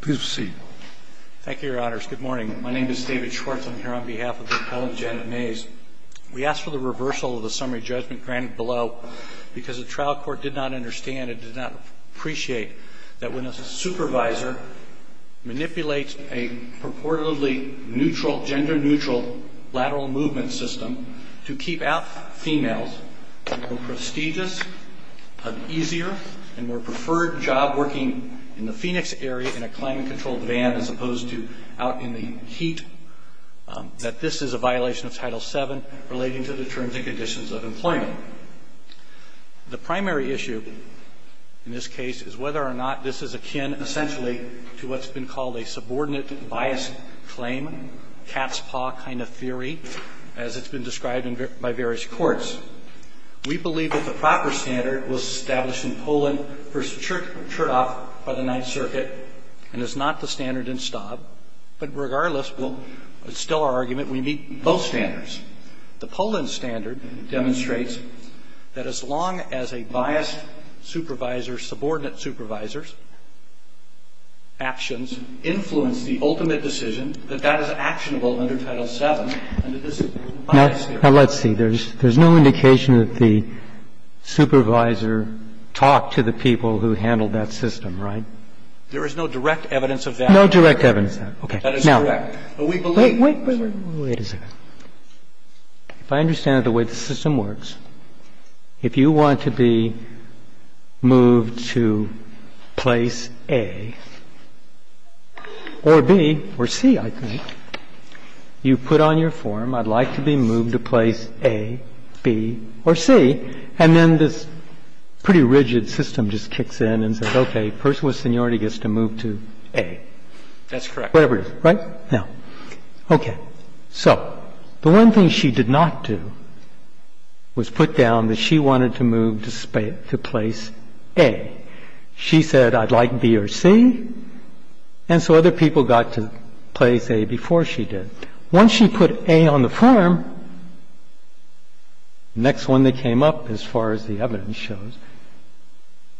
Please proceed. Thank you, your honors. Good morning. My name is David Schwartz. I'm here on behalf of the appellant, Janet Mays. We ask for the reversal of the summary judgment granted below because the trial court did not understand and did not appreciate that when a supervisor manipulates a purportedly neutral, gender-neutral lateral movement system to keep out females in a more prestigious, easier, and more preferred job working in the Phoenix area in a climate-controlled van as opposed to out in the heat, that this is a violation of Title VII relating to the terms and conditions of employment. The primary issue in this case is whether or not this is akin essentially to what's been called a subordinate bias claim, cat's paw kind of as it's been described by various courts. We believe that the proper standard was established in Poland v. Chertoff by the Ninth Circuit and is not the standard in Staub. But regardless, it's still our argument we meet both standards. The Poland standard demonstrates that as long as a biased supervisor, subordinate supervisor's actions influence the ultimate decision, that that is correct. Now, let's see. There's no indication that the supervisor talked to the people who handled that system, right? There is no direct evidence of that. No direct evidence of that. That is correct. Now, wait, wait, wait a second. If I understand it the way the system works, if you want to be moved to place A or B or C, I think, you put on your form, I'd like to be moved to place A, B, or C, and then this pretty rigid system just kicks in and says, okay, personal seniority gets to move to A. That's correct. So the one thing she did not do was put down that she wanted to move to place A. She said I'd like B or C, and so other people got to place A before she did. Once she put A on the form, the next one that came up, as far as the evidence shows,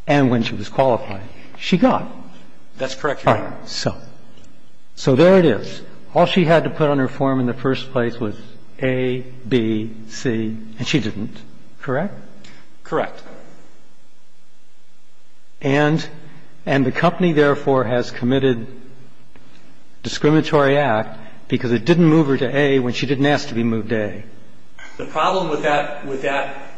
and when she was qualified, she got. So there it is. All she had to put on her form in the first place was A, B, C, and she didn't, correct? Correct. And the company, therefore, has committed discriminatory act because it didn't move her to A when she didn't ask to be moved to A. The problem with that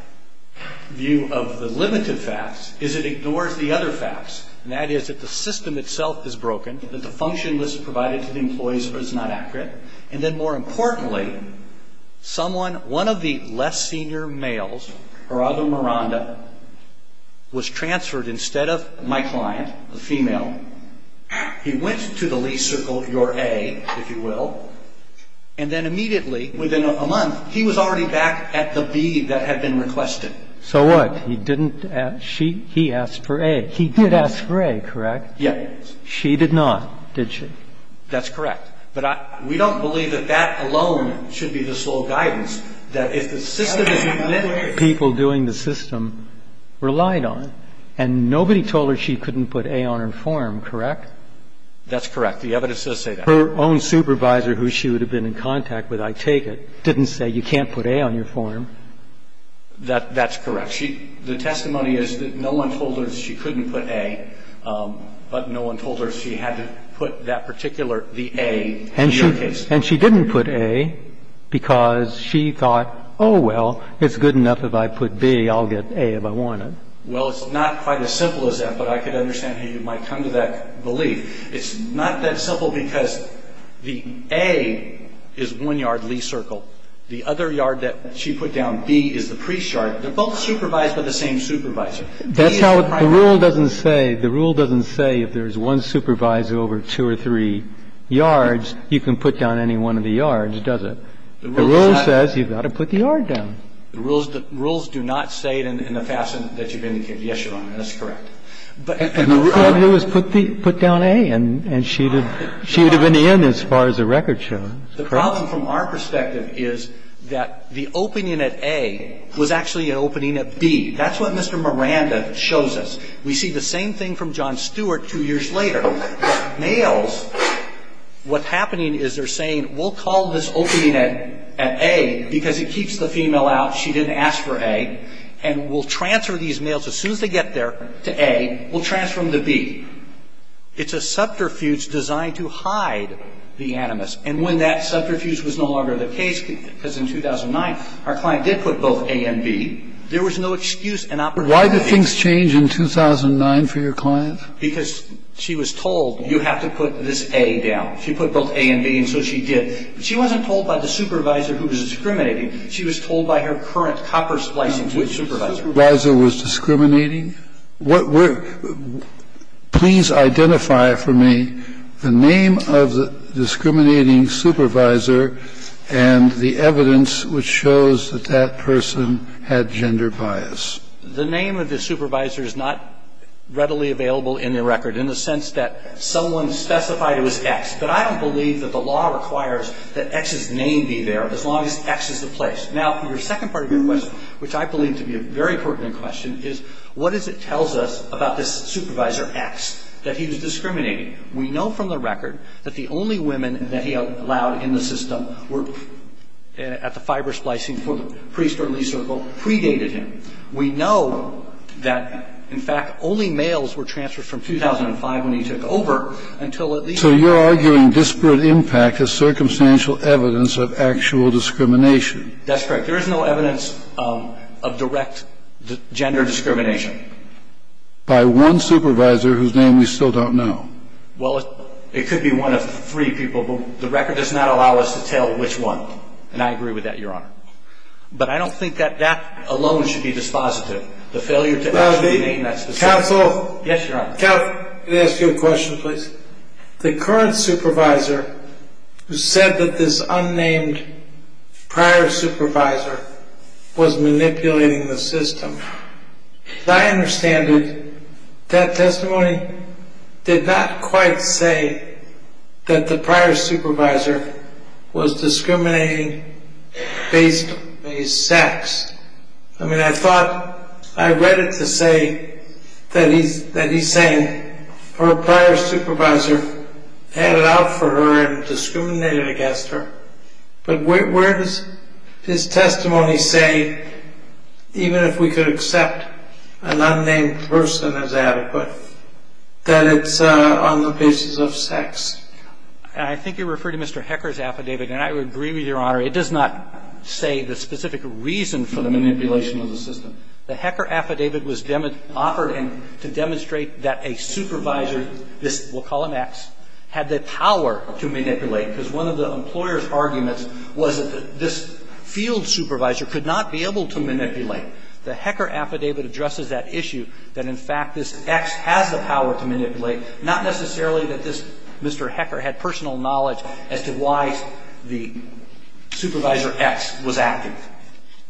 view of the limited facts is it ignores the other facts, and that is that the system itself is broken. That the function was provided to the employees, but it's not accurate. And then more importantly, someone, one of the less senior males, Gerardo Miranda, was transferred instead of my client, the female. He went to the lease circle, your A, if you will, and then immediately, within a month, he was already back at the B that had been requested. So what? He didn't ask, she, he asked for A. He did ask for A, correct? Yes. And she did not, did she? That's correct. But we don't believe that that alone should be the sole guidance, that if the system that people doing the system relied on, and nobody told her she couldn't put A on her form, correct? That's correct. The evidence does say that. Her own supervisor, who she would have been in contact with, I take it, didn't say you can't put A on your form. That's correct. The testimony is that no one told her she couldn't put A, but no one told her she had to put that particular, the A, in your case. And she didn't put A because she thought, oh, well, it's good enough if I put B, I'll get A if I want it. Well, it's not quite as simple as that, but I can understand how you might come to that belief. It's not that simple because the A is one yard lease circle. The other yard that she put down, B, is the pre-chart. They're both supervised by the same supervisor. That's how the rule doesn't say, the rule doesn't say if there's one supervisor over two or three yards, you can put down any one of the yards, does it? The rule says you've got to put the yard down. The rules do not say it in the fashion that you've indicated. Yes, Your Honor, that's correct. And the rule is put down A, and she would have been in as far as the record shows. The problem from our perspective is that the opening at A was actually an opening at B. That's what Mr. Miranda shows us. We see the same thing from John Stewart two years later. Males, what's happening is they're saying, we'll call this opening at A because it keeps the female out. She didn't ask for A. And we'll transfer these males, as soon as they get there, to A, we'll transfer them to B. It's a subterfuge designed to hide the animus. And when that subterfuge was no longer the case, because in 2009, our client did put both A and B, there was no excuse in operating at A. Why did things change in 2009 for your client? Because she was told, you have to put this A down. She put both A and B, and so she did. She wasn't told by the supervisor who was discriminating. She was told by her current copper splicing supervisor. The supervisor was discriminating? I mean, what we're – please identify for me the name of the discriminating supervisor and the evidence which shows that that person had gender bias. The name of the supervisor is not readily available in the record, in the sense that someone specified it was X. But I don't believe that the law requires that X's name be there, as long as X is the place. Now, your second part of your question, which I believe to be a very pertinent question, is what is it tells us about this supervisor X that he was discriminating? We know from the record that the only women that he allowed in the system were at the fiber splicing for the priest or lease circle predated him. We know that, in fact, only males were transferred from 2005, when he took over, until at least – So you're arguing disparate impact is circumstantial evidence of actual discrimination. That's correct. There is no evidence of direct gender discrimination. By one supervisor whose name we still don't know. Well, it could be one of three people, but the record does not allow us to tell which one. And I agree with that, Your Honor. But I don't think that that alone should be dispositive. The failure to actually name that specific – Well, the counsel – Yes, Your Honor. Counsel, can I ask you a question, please? The current supervisor who said that this unnamed prior supervisor was manipulating the system, as I understand it, that testimony did not quite say that the prior supervisor was discriminating based on his sex. I mean, I thought – I read it to say that he's saying her prior supervisor had it out for her and discriminated against her. But where does his testimony say, even if we could accept an unnamed person as adequate, that it's on the basis of sex? I think you refer to Mr. Hecker's affidavit, and I would agree with Your Honor. It does not say the specific reason for the manipulation of the system. The Hecker affidavit was offered to demonstrate that a supervisor, we'll call him X, had the power to manipulate, because one of the employer's arguments was that this field supervisor could not be able to manipulate. The Hecker affidavit addresses that issue, that in fact this X has the power to manipulate, not necessarily that this Mr. Hecker had personal knowledge as to why the supervisor X was active.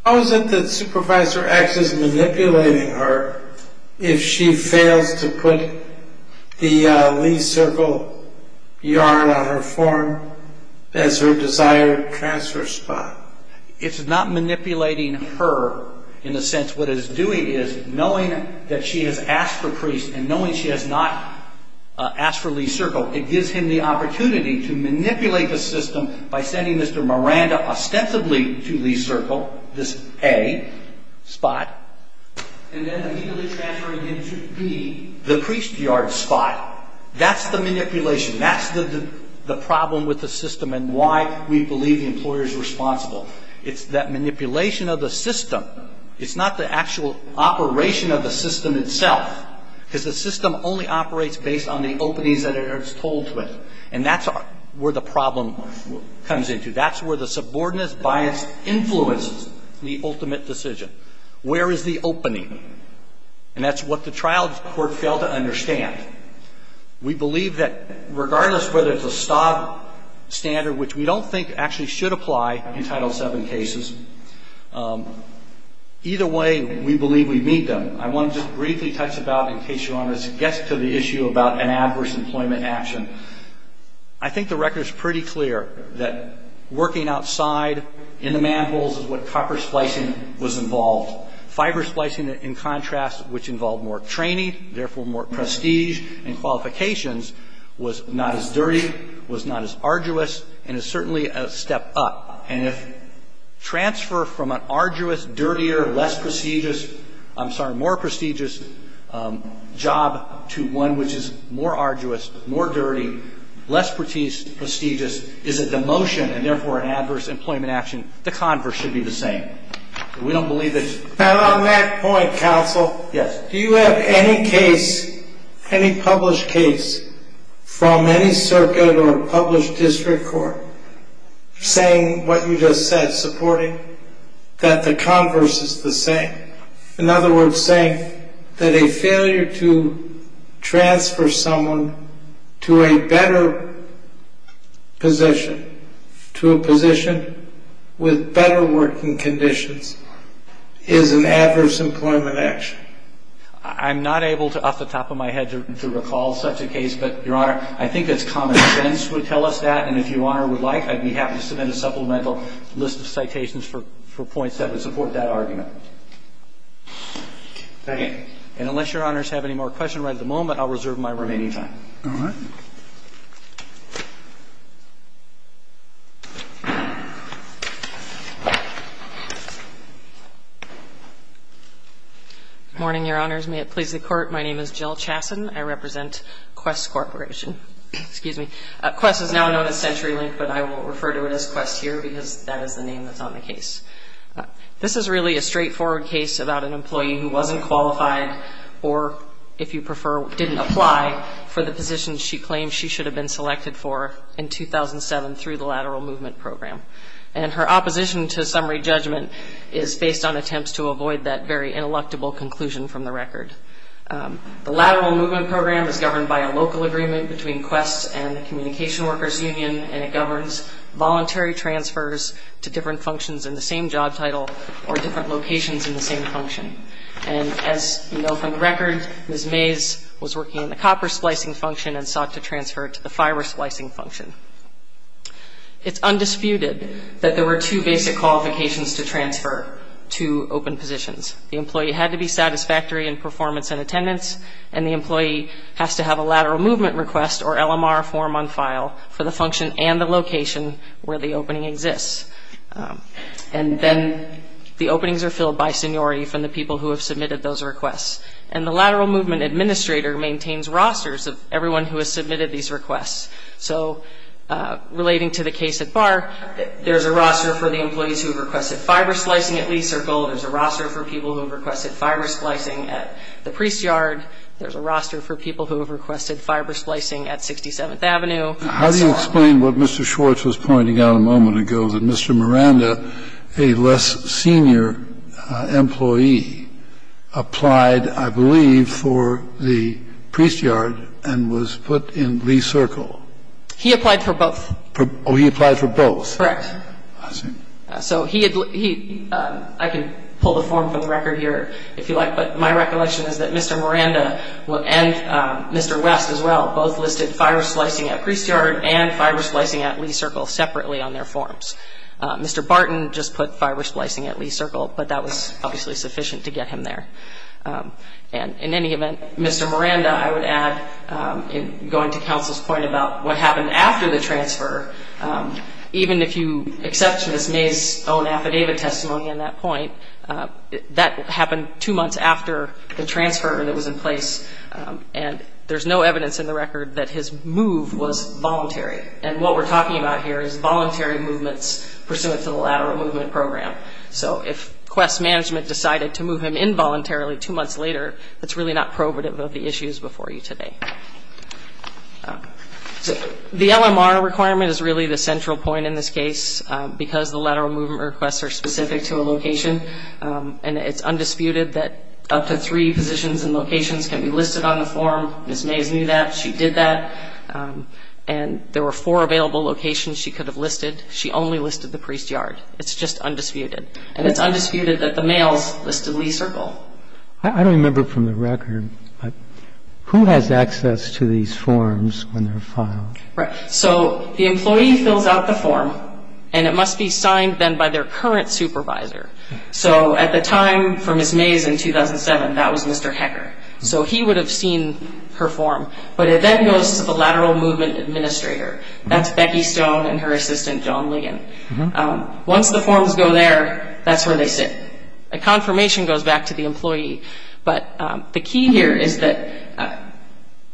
How is it that supervisor X is manipulating her if she fails to put the Lee circle yarn on her form as her desired transfer spot? It's not manipulating her in the sense what it's doing is knowing that she has asked for priests and knowing she has not asked for Lee circle, it gives him the opportunity to manipulate the system by sending Mr. Miranda ostensibly to Lee circle, this A spot, and then immediately transferring him to B, the priest yard spot. That's the manipulation. That's the problem with the system and why we believe the employer's responsible. It's that manipulation of the system. It's not the actual operation of the system itself, because the system only operates based on the openings that it's told to it, and that's where the problem comes into. That's where the subordinates' bias influences the ultimate decision. Where is the opening? And that's what the trial court failed to understand. We believe that regardless of whether it's a stock standard, which we don't think actually should apply in Title VII cases, either way we believe we meet them. I want to just briefly touch about, in case you're on this, gets to the issue about an adverse employment action. I think the record is pretty clear that working outside in the manholes is what copper splicing was involved. Fiber splicing, in contrast, which involved more training, therefore more prestige and qualifications, was not as dirty, was not as arduous, and is certainly a step up. And if transfer from an arduous, dirtier, less prestigious, I'm sorry, more prestigious job to one which is more arduous, more dirty, less prestigious, is a demotion and therefore an adverse employment action, the converse should be the same. And on that point, counsel, do you have any case, any published case, from any circuit or published district court saying what you just said, supporting, that the converse is the same? In other words, saying that a failure to transfer someone to a better position, to a position with better working conditions, is an adverse employment action? I'm not able to, off the top of my head, to recall such a case, but, Your Honor, I think it's common sense would tell us that, and if Your Honor would like, I'd be happy to submit a supplemental list of citations for points that would support that argument. Thank you. And unless Your Honors have any more questions right at the moment, I'll reserve my remaining time. All right. Morning, Your Honors. May it please the Court. My name is Jill Chasson. I represent Quest Corporation. Excuse me. Quest is now known as CenturyLink, but I will refer to it as Quest here, because that is the name that's on the case. This is really a straightforward case about an employee who wasn't qualified or, if you prefer, didn't apply for the position she could apply for. She claims she should have been selected for in 2007 through the Lateral Movement Program. And her opposition to summary judgment is based on attempts to avoid that very ineluctable conclusion from the record. The Lateral Movement Program is governed by a local agreement between Quest and the Communication Workers Union, and it governs voluntary transfers to different functions in the same job title or different locations in the same function. And as you know from the record, Ms. Mays was working in the copper splicing function and sought to transfer to the fiber splicing function. It's undisputed that there were two basic qualifications to transfer to open positions. The employee had to be satisfactory in performance and attendance, and the employee has to have a lateral movement request or LMR form on file for the function and the location where the opening exists. And then the openings are filled by seniority from the people who have submitted those requests. And the lateral movement administrator maintains rosters of everyone who has submitted these requests. So relating to the case at Barr, there's a roster for the employees who have requested fiber splicing at Lee Circle. There's a roster for people who have requested fiber splicing at the Priest Yard. There's a roster for people who have requested fiber splicing at 67th Avenue. How do you explain what Mr. Schwartz was pointing out a moment ago, that Mr. Miranda, a less senior employee, applied, I believe, for the Priest Yard and was put in Lee Circle? He applied for both. Oh, he applied for both. Correct. I see. So he had he ‑‑ I can pull the form from the record here if you like, but my recollection is that Mr. Miranda and Mr. West as well both listed fiber splicing at Priest Yard and fiber splicing at Lee Circle separately on their forms. Mr. Barton just put fiber splicing at Lee Circle, but that was obviously sufficient to get him there. And in any event, Mr. Miranda, I would add, going to counsel's point about what happened after the transfer, even if you accept Ms. May's own affidavit testimony on that point, that happened two months after the transfer that was in place. And there's no evidence in the record that his move was voluntary. And what we're talking about here is voluntary movements pursuant to the lateral movement program. So if quest management decided to move him involuntarily two months later, that's really not probative of the issues before you today. The LMR requirement is really the central point in this case because the lateral movement requests are specific to a location. And it's undisputed that up to three positions and locations can be listed on the form. Ms. Mays knew that. She did that. And there were four available locations she could have listed. She only listed the Priest Yard. It's just undisputed. And it's undisputed that the males listed Lee Circle. I don't remember from the record, but who has access to these forms when they're filed? Right. So the employee fills out the form, and it must be signed then by their current supervisor. So at the time for Ms. Mays in 2007, that was Mr. Hecker. So he would have seen her form. But it then goes to the lateral movement administrator. That's Becky Stone and her assistant, Joan Ligon. Once the forms go there, that's where they sit. A confirmation goes back to the employee. But the key here is that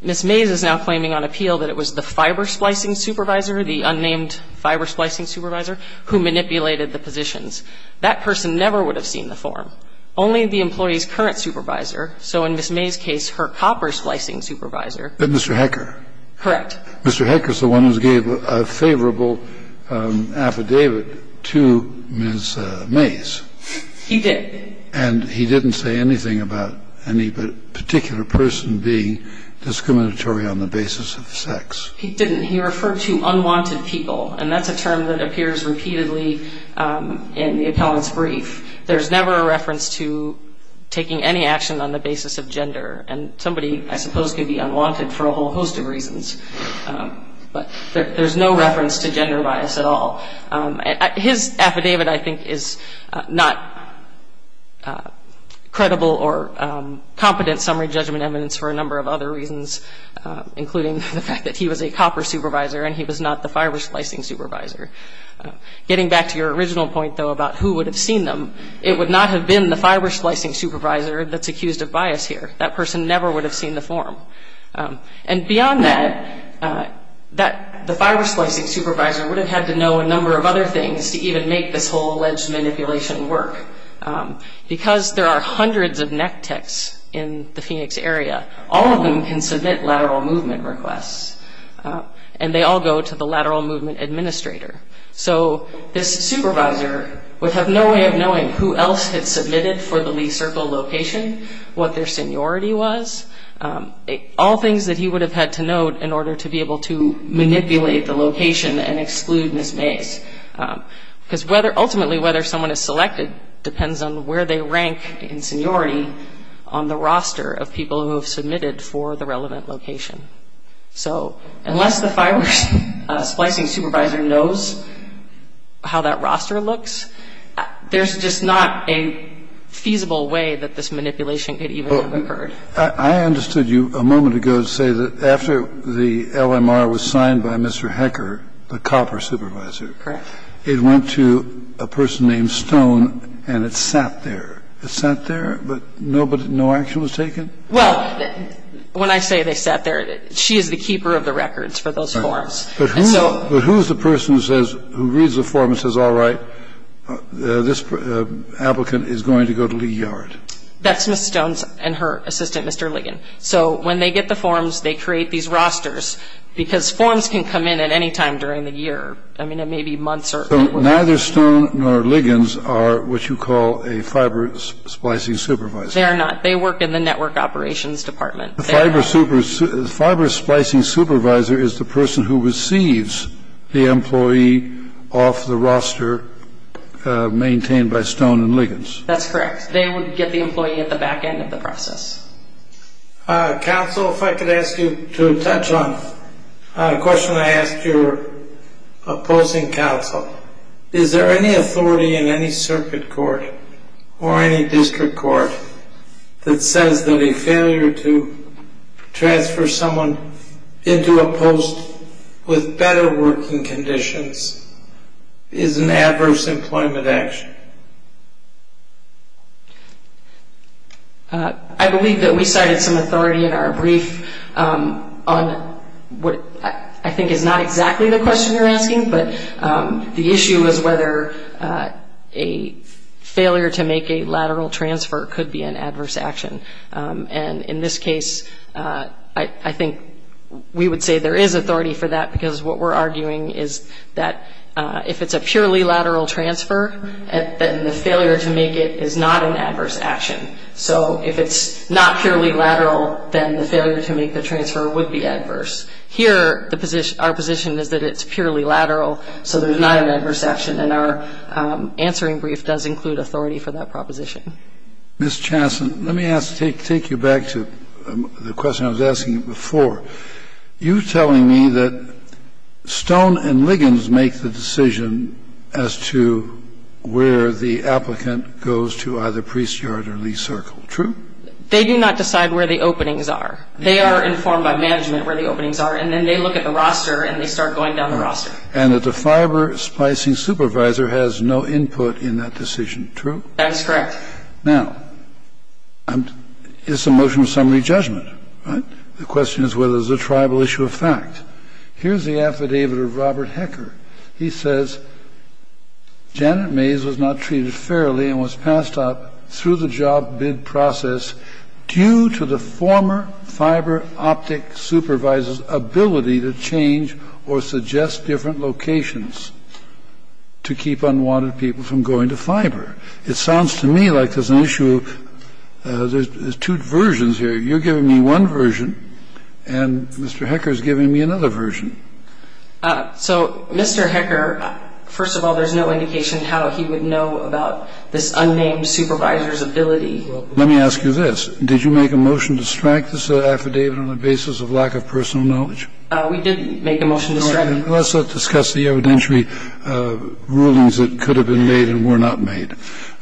Ms. Mays is now claiming on appeal that it was the fiber splicing supervisor, the unnamed fiber splicing supervisor, who manipulated the positions. That person never would have seen the form, only the employee's current supervisor. So in Ms. Mays' case, her copper splicing supervisor. But Mr. Hecker. Correct. Mr. Hecker is the one who gave a favorable affidavit to Ms. Mays. He did. And he didn't say anything about any particular person being discriminatory on the basis of sex. He didn't. He referred to unwanted people. And that's a term that appears repeatedly in the appellant's brief. There's never a reference to taking any action on the basis of gender. And somebody, I suppose, could be unwanted for a whole host of reasons. But there's no reference to gender bias at all. His affidavit, I think, is not credible or competent summary judgment evidence for a number of other reasons, including the fact that he was a copper supervisor and he was not the fiber splicing supervisor. Getting back to your original point, though, about who would have seen them, it would not have been the fiber splicing supervisor that's accused of bias here. That person never would have seen the form. And beyond that, the fiber splicing supervisor would have had to know a number of other things to even make this whole alleged manipulation work. Because there are hundreds of neck techs in the Phoenix area, all of them can submit lateral movement requests. And they all go to the lateral movement administrator. So this supervisor would have no way of knowing who else had submitted for the Lee Circle location, what their seniority was, all things that he would have had to note in order to be able to manipulate the location and exclude misplays. Because ultimately, whether someone is selected depends on where they rank in seniority on the roster of people who have submitted for the relevant location. So unless the fiber splicing supervisor knows how that roster looks, there's just not a feasible way that this manipulation could even have occurred. I understood you a moment ago say that after the LMR was signed by Mr. Hecker, the copper supervisor, it went to a person named Stone and it sat there. It sat there, but no action was taken? Well, when I say they sat there, she is the keeper of the records for those forms. But who is the person who says, who reads the form and says, all right, this applicant is going to go to Lee Yard? That's Ms. Stone's and her assistant, Mr. Ligon. So when they get the forms, they create these rosters, because forms can come in at any time during the year. I mean, it may be months. So neither Stone nor Ligon are what you call a fiber splicing supervisor? They are not. They work in the network operations department. The fiber splicing supervisor is the person who receives the employee off the roster maintained by Stone and Ligon. That's correct. They would get the employee at the back end of the process. Counsel, if I could ask you to touch on a question I asked your opposing counsel. Is there any authority in any circuit court or any district court that says that a failure to transfer someone into a post with better working conditions is an adverse employment action? I believe that we cited some authority in our brief on what I think is not exactly the question you're asking, but the issue is whether a failure to make a lateral transfer could be an adverse action. And in this case, I think we would say there is authority for that, because what we're arguing is that if it's a purely lateral transfer, then the failure to make it is not an adverse action. So if it's not purely lateral, then the failure to make the transfer would be adverse. Here, our position is that it's purely lateral, so there's not an adverse action. And our answering brief does include authority for that proposition. Ms. Chanson, let me take you back to the question I was asking before. You were telling me that Stone and Ligon make the decision as to where the applicant goes to either Priest Yard or Lee Circle. True? They do not decide where the openings are. They are informed by management where the openings are, and then they look at the roster and they start going down the roster. And that the fiber splicing supervisor has no input in that decision. True? That is correct. Now, it's a motion of summary judgment, right? The question is whether it's a tribal issue of fact. Here's the affidavit of Robert Hecker. He says Janet Mays was not treated fairly and was passed up through the job bid process due to the former fiber optic supervisor's ability to change or suggest different locations to keep unwanted people from going to fiber. It sounds to me like there's an issue of there's two versions here. You're giving me one version, and Mr. Hecker is giving me another version. So, Mr. Hecker, first of all, there's no indication how he would know about this unnamed supervisor's ability. Let me ask you this. Did you make a motion to strike this affidavit on the basis of lack of personal knowledge? We did make a motion to strike it. Let's discuss the evidentiary rulings that could have been made and were not made.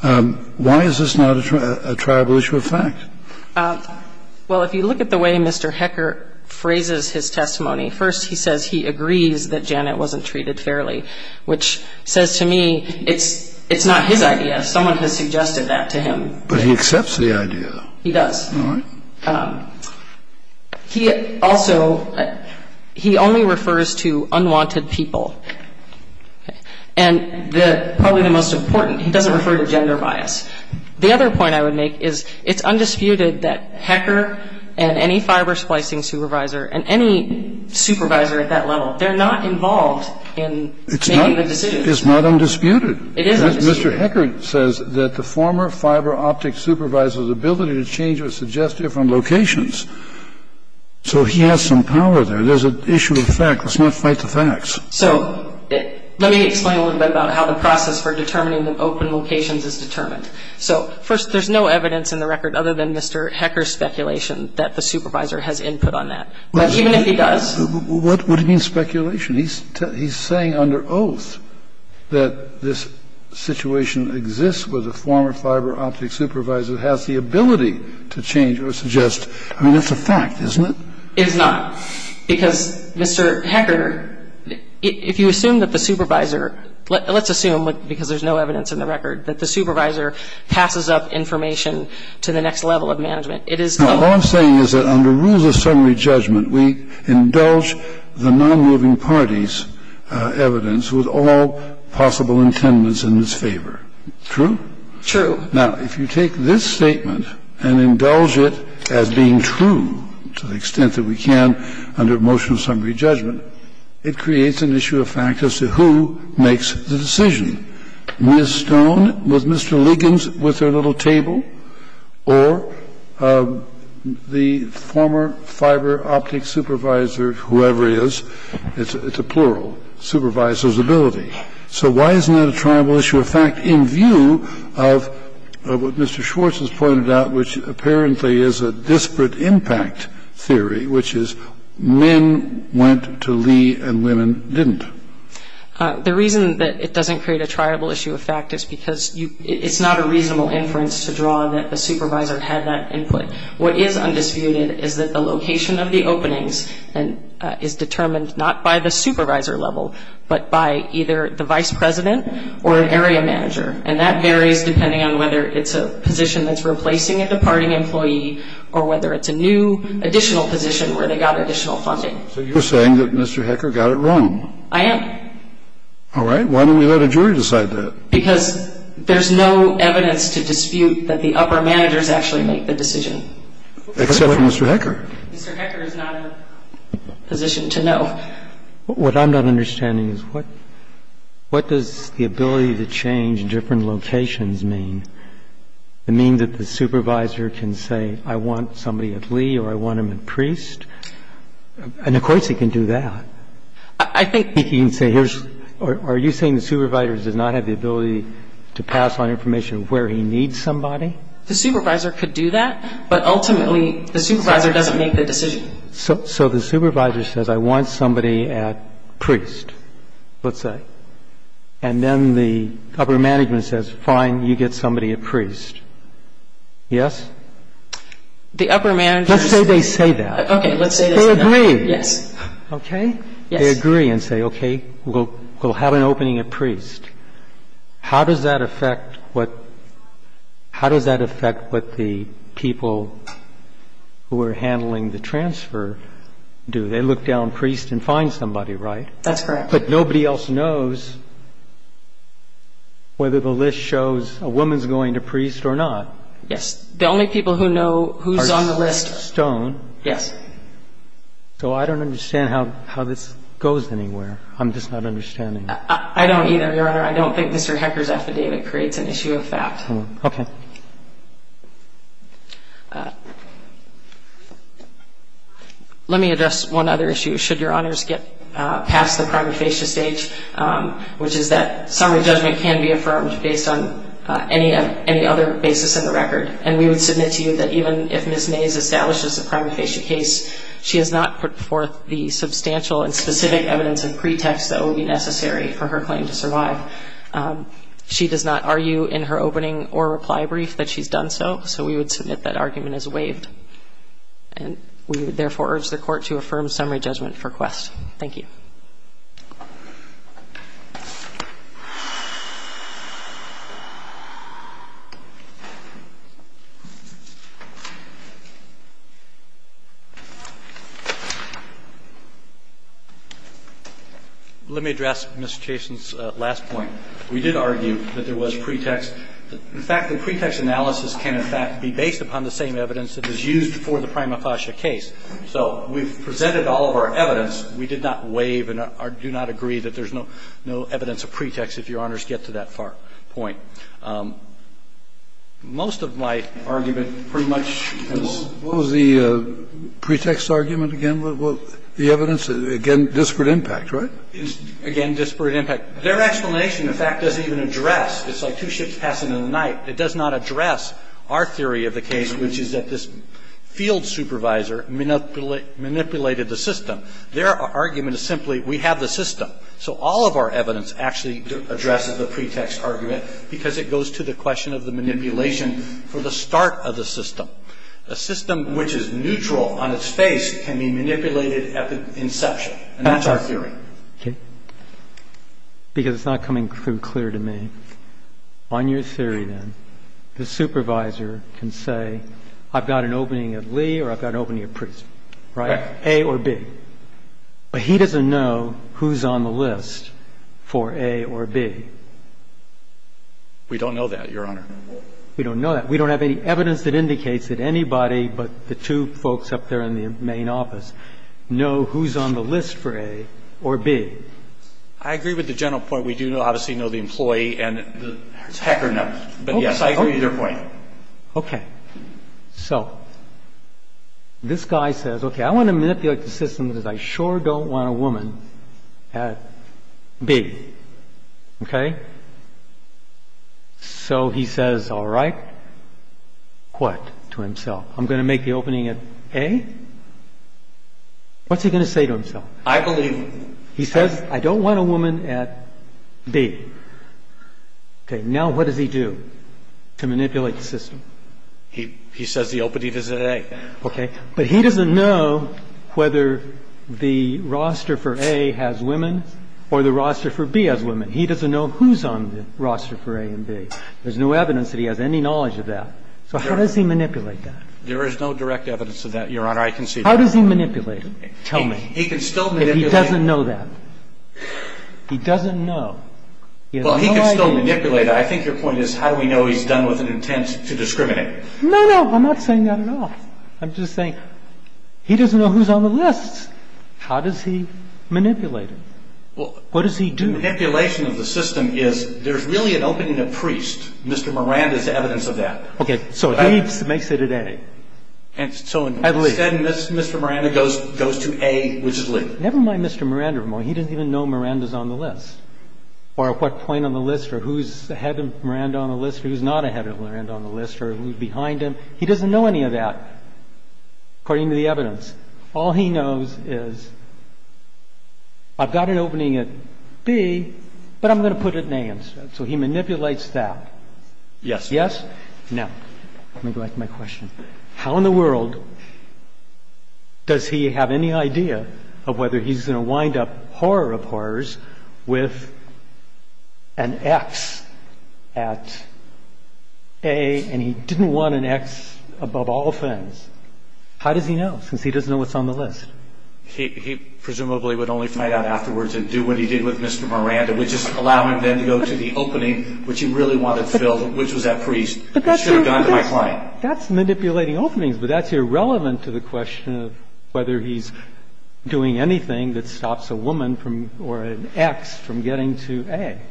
Why is this not a tribal issue of fact? Well, if you look at the way Mr. Hecker phrases his testimony, first he says he agrees that Janet wasn't treated fairly, which says to me it's not his idea. Someone has suggested that to him. But he accepts the idea. He does. All right. He also, he only refers to unwanted people. And probably the most important, he doesn't refer to gender bias. The other point I would make is it's undisputed that Hecker and any fiber splicing supervisor and any supervisor at that level, they're not involved in making the decision. It's not undisputed. It is undisputed. Mr. Hecker says that the former fiber optic supervisor's ability to change or suggest different locations. So he has some power there. There's an issue of fact. Let's not fight the facts. So let me explain a little bit about how the process for determining the open locations is determined. So first, there's no evidence in the record other than Mr. Hecker's speculation that the supervisor has input on that. But even if he does. What do you mean speculation? He's saying under oath that this situation exists where the former fiber optic supervisor has the ability to change or suggest. I mean, that's a fact, isn't it? It's not. Because, Mr. Hecker, if you assume that the supervisor, let's assume, because there's no evidence in the record, that the supervisor passes up information to the next level of management, it is. Now, all I'm saying is that under rules of summary judgment, we indulge the nonmoving party's evidence with all possible intendance in its favor. True? True. Now, if you take this statement and indulge it as being true to the extent that we can under motion of summary judgment, it creates an issue of fact as to who makes the decision. Ms. Stone, was Mr. Liggins with their little table, or the former fiber optic supervisor, whoever he is, it's a plural, supervisor's ability. So why isn't that a tribal issue of fact in view of what Mr. Schwartz has pointed out, which apparently is a disparate impact theory, which is men went to Lee and women didn't? The reason that it doesn't create a tribal issue of fact is because it's not a reasonable inference to draw that the supervisor had that input. What is undisputed is that the location of the openings is determined not by the supervisor level, but by either the vice president or an area manager. And that varies depending on whether it's a position that's replacing a departing employee or whether it's a new additional position where they got additional funding. So you're saying that Mr. Hecker got it wrong. I am. All right. Why don't we let a jury decide that? Because there's no evidence to dispute that the upper managers actually make the decision. Except for Mr. Hecker. Mr. Hecker is not in a position to know. What I'm not understanding is what does the ability to change different locations mean? It means that the supervisor can say I want somebody at Lee or I want him at Priest? And of course he can do that. I think he can say here's or are you saying the supervisor does not have the ability to pass on information where he needs somebody? The supervisor could do that, but ultimately the supervisor doesn't make the decision. So the supervisor says I want somebody at Priest, let's say, and then the upper management says, fine, you get somebody at Priest. Yes? The upper managers. Okay. Let's say they say that. Yes. Okay. They agree and say, okay, we'll have an opening at Priest. How does that affect what the people who are handling the transfer do? They look down Priest and find somebody, right? That's correct. But nobody else knows whether the list shows a woman's going to Priest or not. Yes. The only people who know who's on the list. Are Stone. Yes. So I don't understand how this goes anywhere. I'm just not understanding. I don't either, Your Honor. I don't think Mr. Hecker's affidavit creates an issue of fact. Okay. Let me address one other issue. Should Your Honors get past the prima facie stage, which is that summary judgment can be affirmed based on any other basis in the record, and we would submit to you that even if Ms. Mays establishes a prima facie case, she has not put forth the substantial and specific evidence and pretext that would be necessary for her claim to survive. She does not argue in her opening or reply brief that she's done so, so we would submit that argument is waived. And we would therefore urge the Court to affirm summary judgment for Quest. Thank you. Let me address Mr. Chaston's last point. We did argue that there was pretext. In fact, the pretext analysis can, in fact, be based upon the same evidence that is used for the prima facie case. So we've presented all of our evidence. We did not waive and do not agree that there's no evidence of pretext, if Your Honors get to that far point. Most of my argument pretty much was the pretext argument again. The evidence, again, disparate impact, right? Again, disparate impact. Their explanation, in fact, doesn't even address. It's like two ships passing in the night. It does not address our theory of the case, which is that this field supervisor manipulated the system. Their argument is simply we have the system. So all of our evidence actually addresses the pretext argument because it goes to the question of the manipulation for the start of the system. A system which is neutral on its face can be manipulated at the inception. And that's our theory. Breyer. Because it's not coming through clear to me. On your theory, then, the supervisor can say, I've got an opening at Lee or I've got an opening at Priest, right? A or B. But he doesn't know who's on the list for A or B. We don't know that, Your Honor. We don't know that. We don't have any evidence that indicates that anybody but the two folks up there in the main office know who's on the list for A or B. I agree with the general point. We do obviously know the employee and the hacker numbers. But, yes, I agree with your point. Okay. So this guy says, okay, I want to manipulate the system because I sure don't want a woman at B. Okay? So he says, all right. What to himself? I'm going to make the opening at A? What's he going to say to himself? I believe him. He says, I don't want a woman at B. Okay. Now what does he do to manipulate the system? He says the opening is at A. Okay. But he doesn't know whether the roster for A has women or the roster for B has women. He doesn't know who's on the roster for A and B. There's no evidence that he has any knowledge of that. So how does he manipulate that? There is no direct evidence of that, Your Honor. I concede. How does he manipulate it? Tell me. He can still manipulate it. He doesn't know that. He doesn't know. Well, he can still manipulate it. I think your point is how do we know he's done with an intent to discriminate? No, no. I'm not saying that at all. I'm just saying he doesn't know who's on the list. How does he manipulate it? What does he do? The manipulation of the system is there's really an opening at Priest. Mr. Miranda's evidence of that. Okay. So he makes it at A. So instead, Mr. Miranda goes to A, which is Lee. Never mind Mr. Miranda. He doesn't even know Miranda's on the list or what point on the list or who's ahead of Miranda on the list or who's not ahead of Miranda on the list or who's behind him. He doesn't know any of that, according to the evidence. All he knows is I've got an opening at B, but I'm going to put it in A instead. So he manipulates that. Yes. Yes? No. Let me go back to my question. How in the world does he have any idea of whether he's going to wind up horror of horrors with an X at A and he didn't want an X above all offense? How does he know since he doesn't know what's on the list? He presumably would only find out afterwards and do what he did with Mr. Miranda, which is allow him then to go to the opening, which he really wanted to fill, which was that priest. He should have gone to my client. That's manipulating openings, but that's irrelevant to the question of whether he's doing anything that stops a woman or an X from getting to A.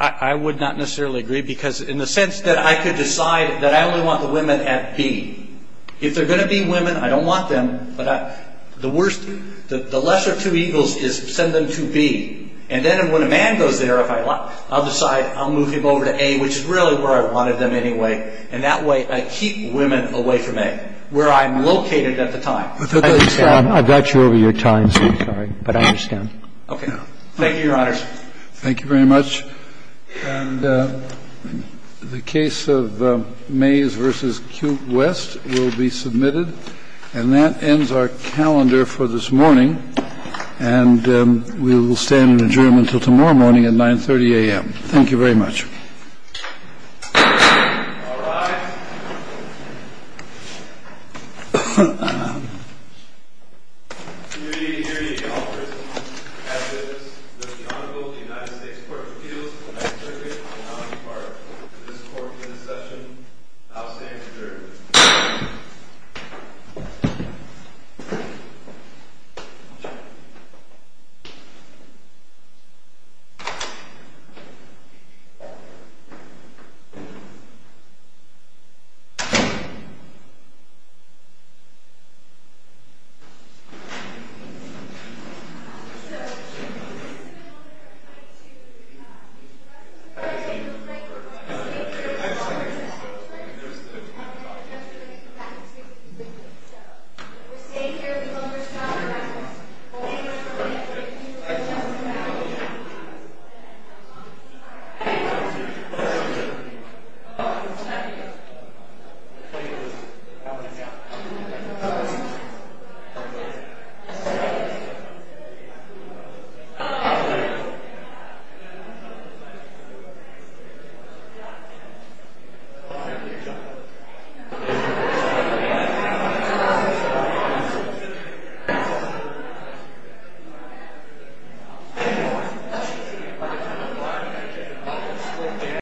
I would not necessarily agree because in the sense that I could decide that I only want the women at B. If they're going to be women, I don't want them. But the worst, the lesser of two eagles is send them to B. And then when a man goes there, if I want, I'll decide I'll move him over to A, which is really where I wanted them anyway. And that way I keep women away from A, where I'm located at the time. I've got you over your time, so I'm sorry. But I understand. Okay. Thank you, Your Honors. Thank you very much. And the case of Mays v. Cute West will be submitted. And that ends our calendar for this morning. And we will stand in adjournment until tomorrow morning at 9.30 a.m. Thank you very much. All rise. Committee, hereby offers as is the Honorable United States Court of Appeals the next circuit on the county part. To the support of this session, I'll stand adjourned. Thank you. Thank you. Thank you.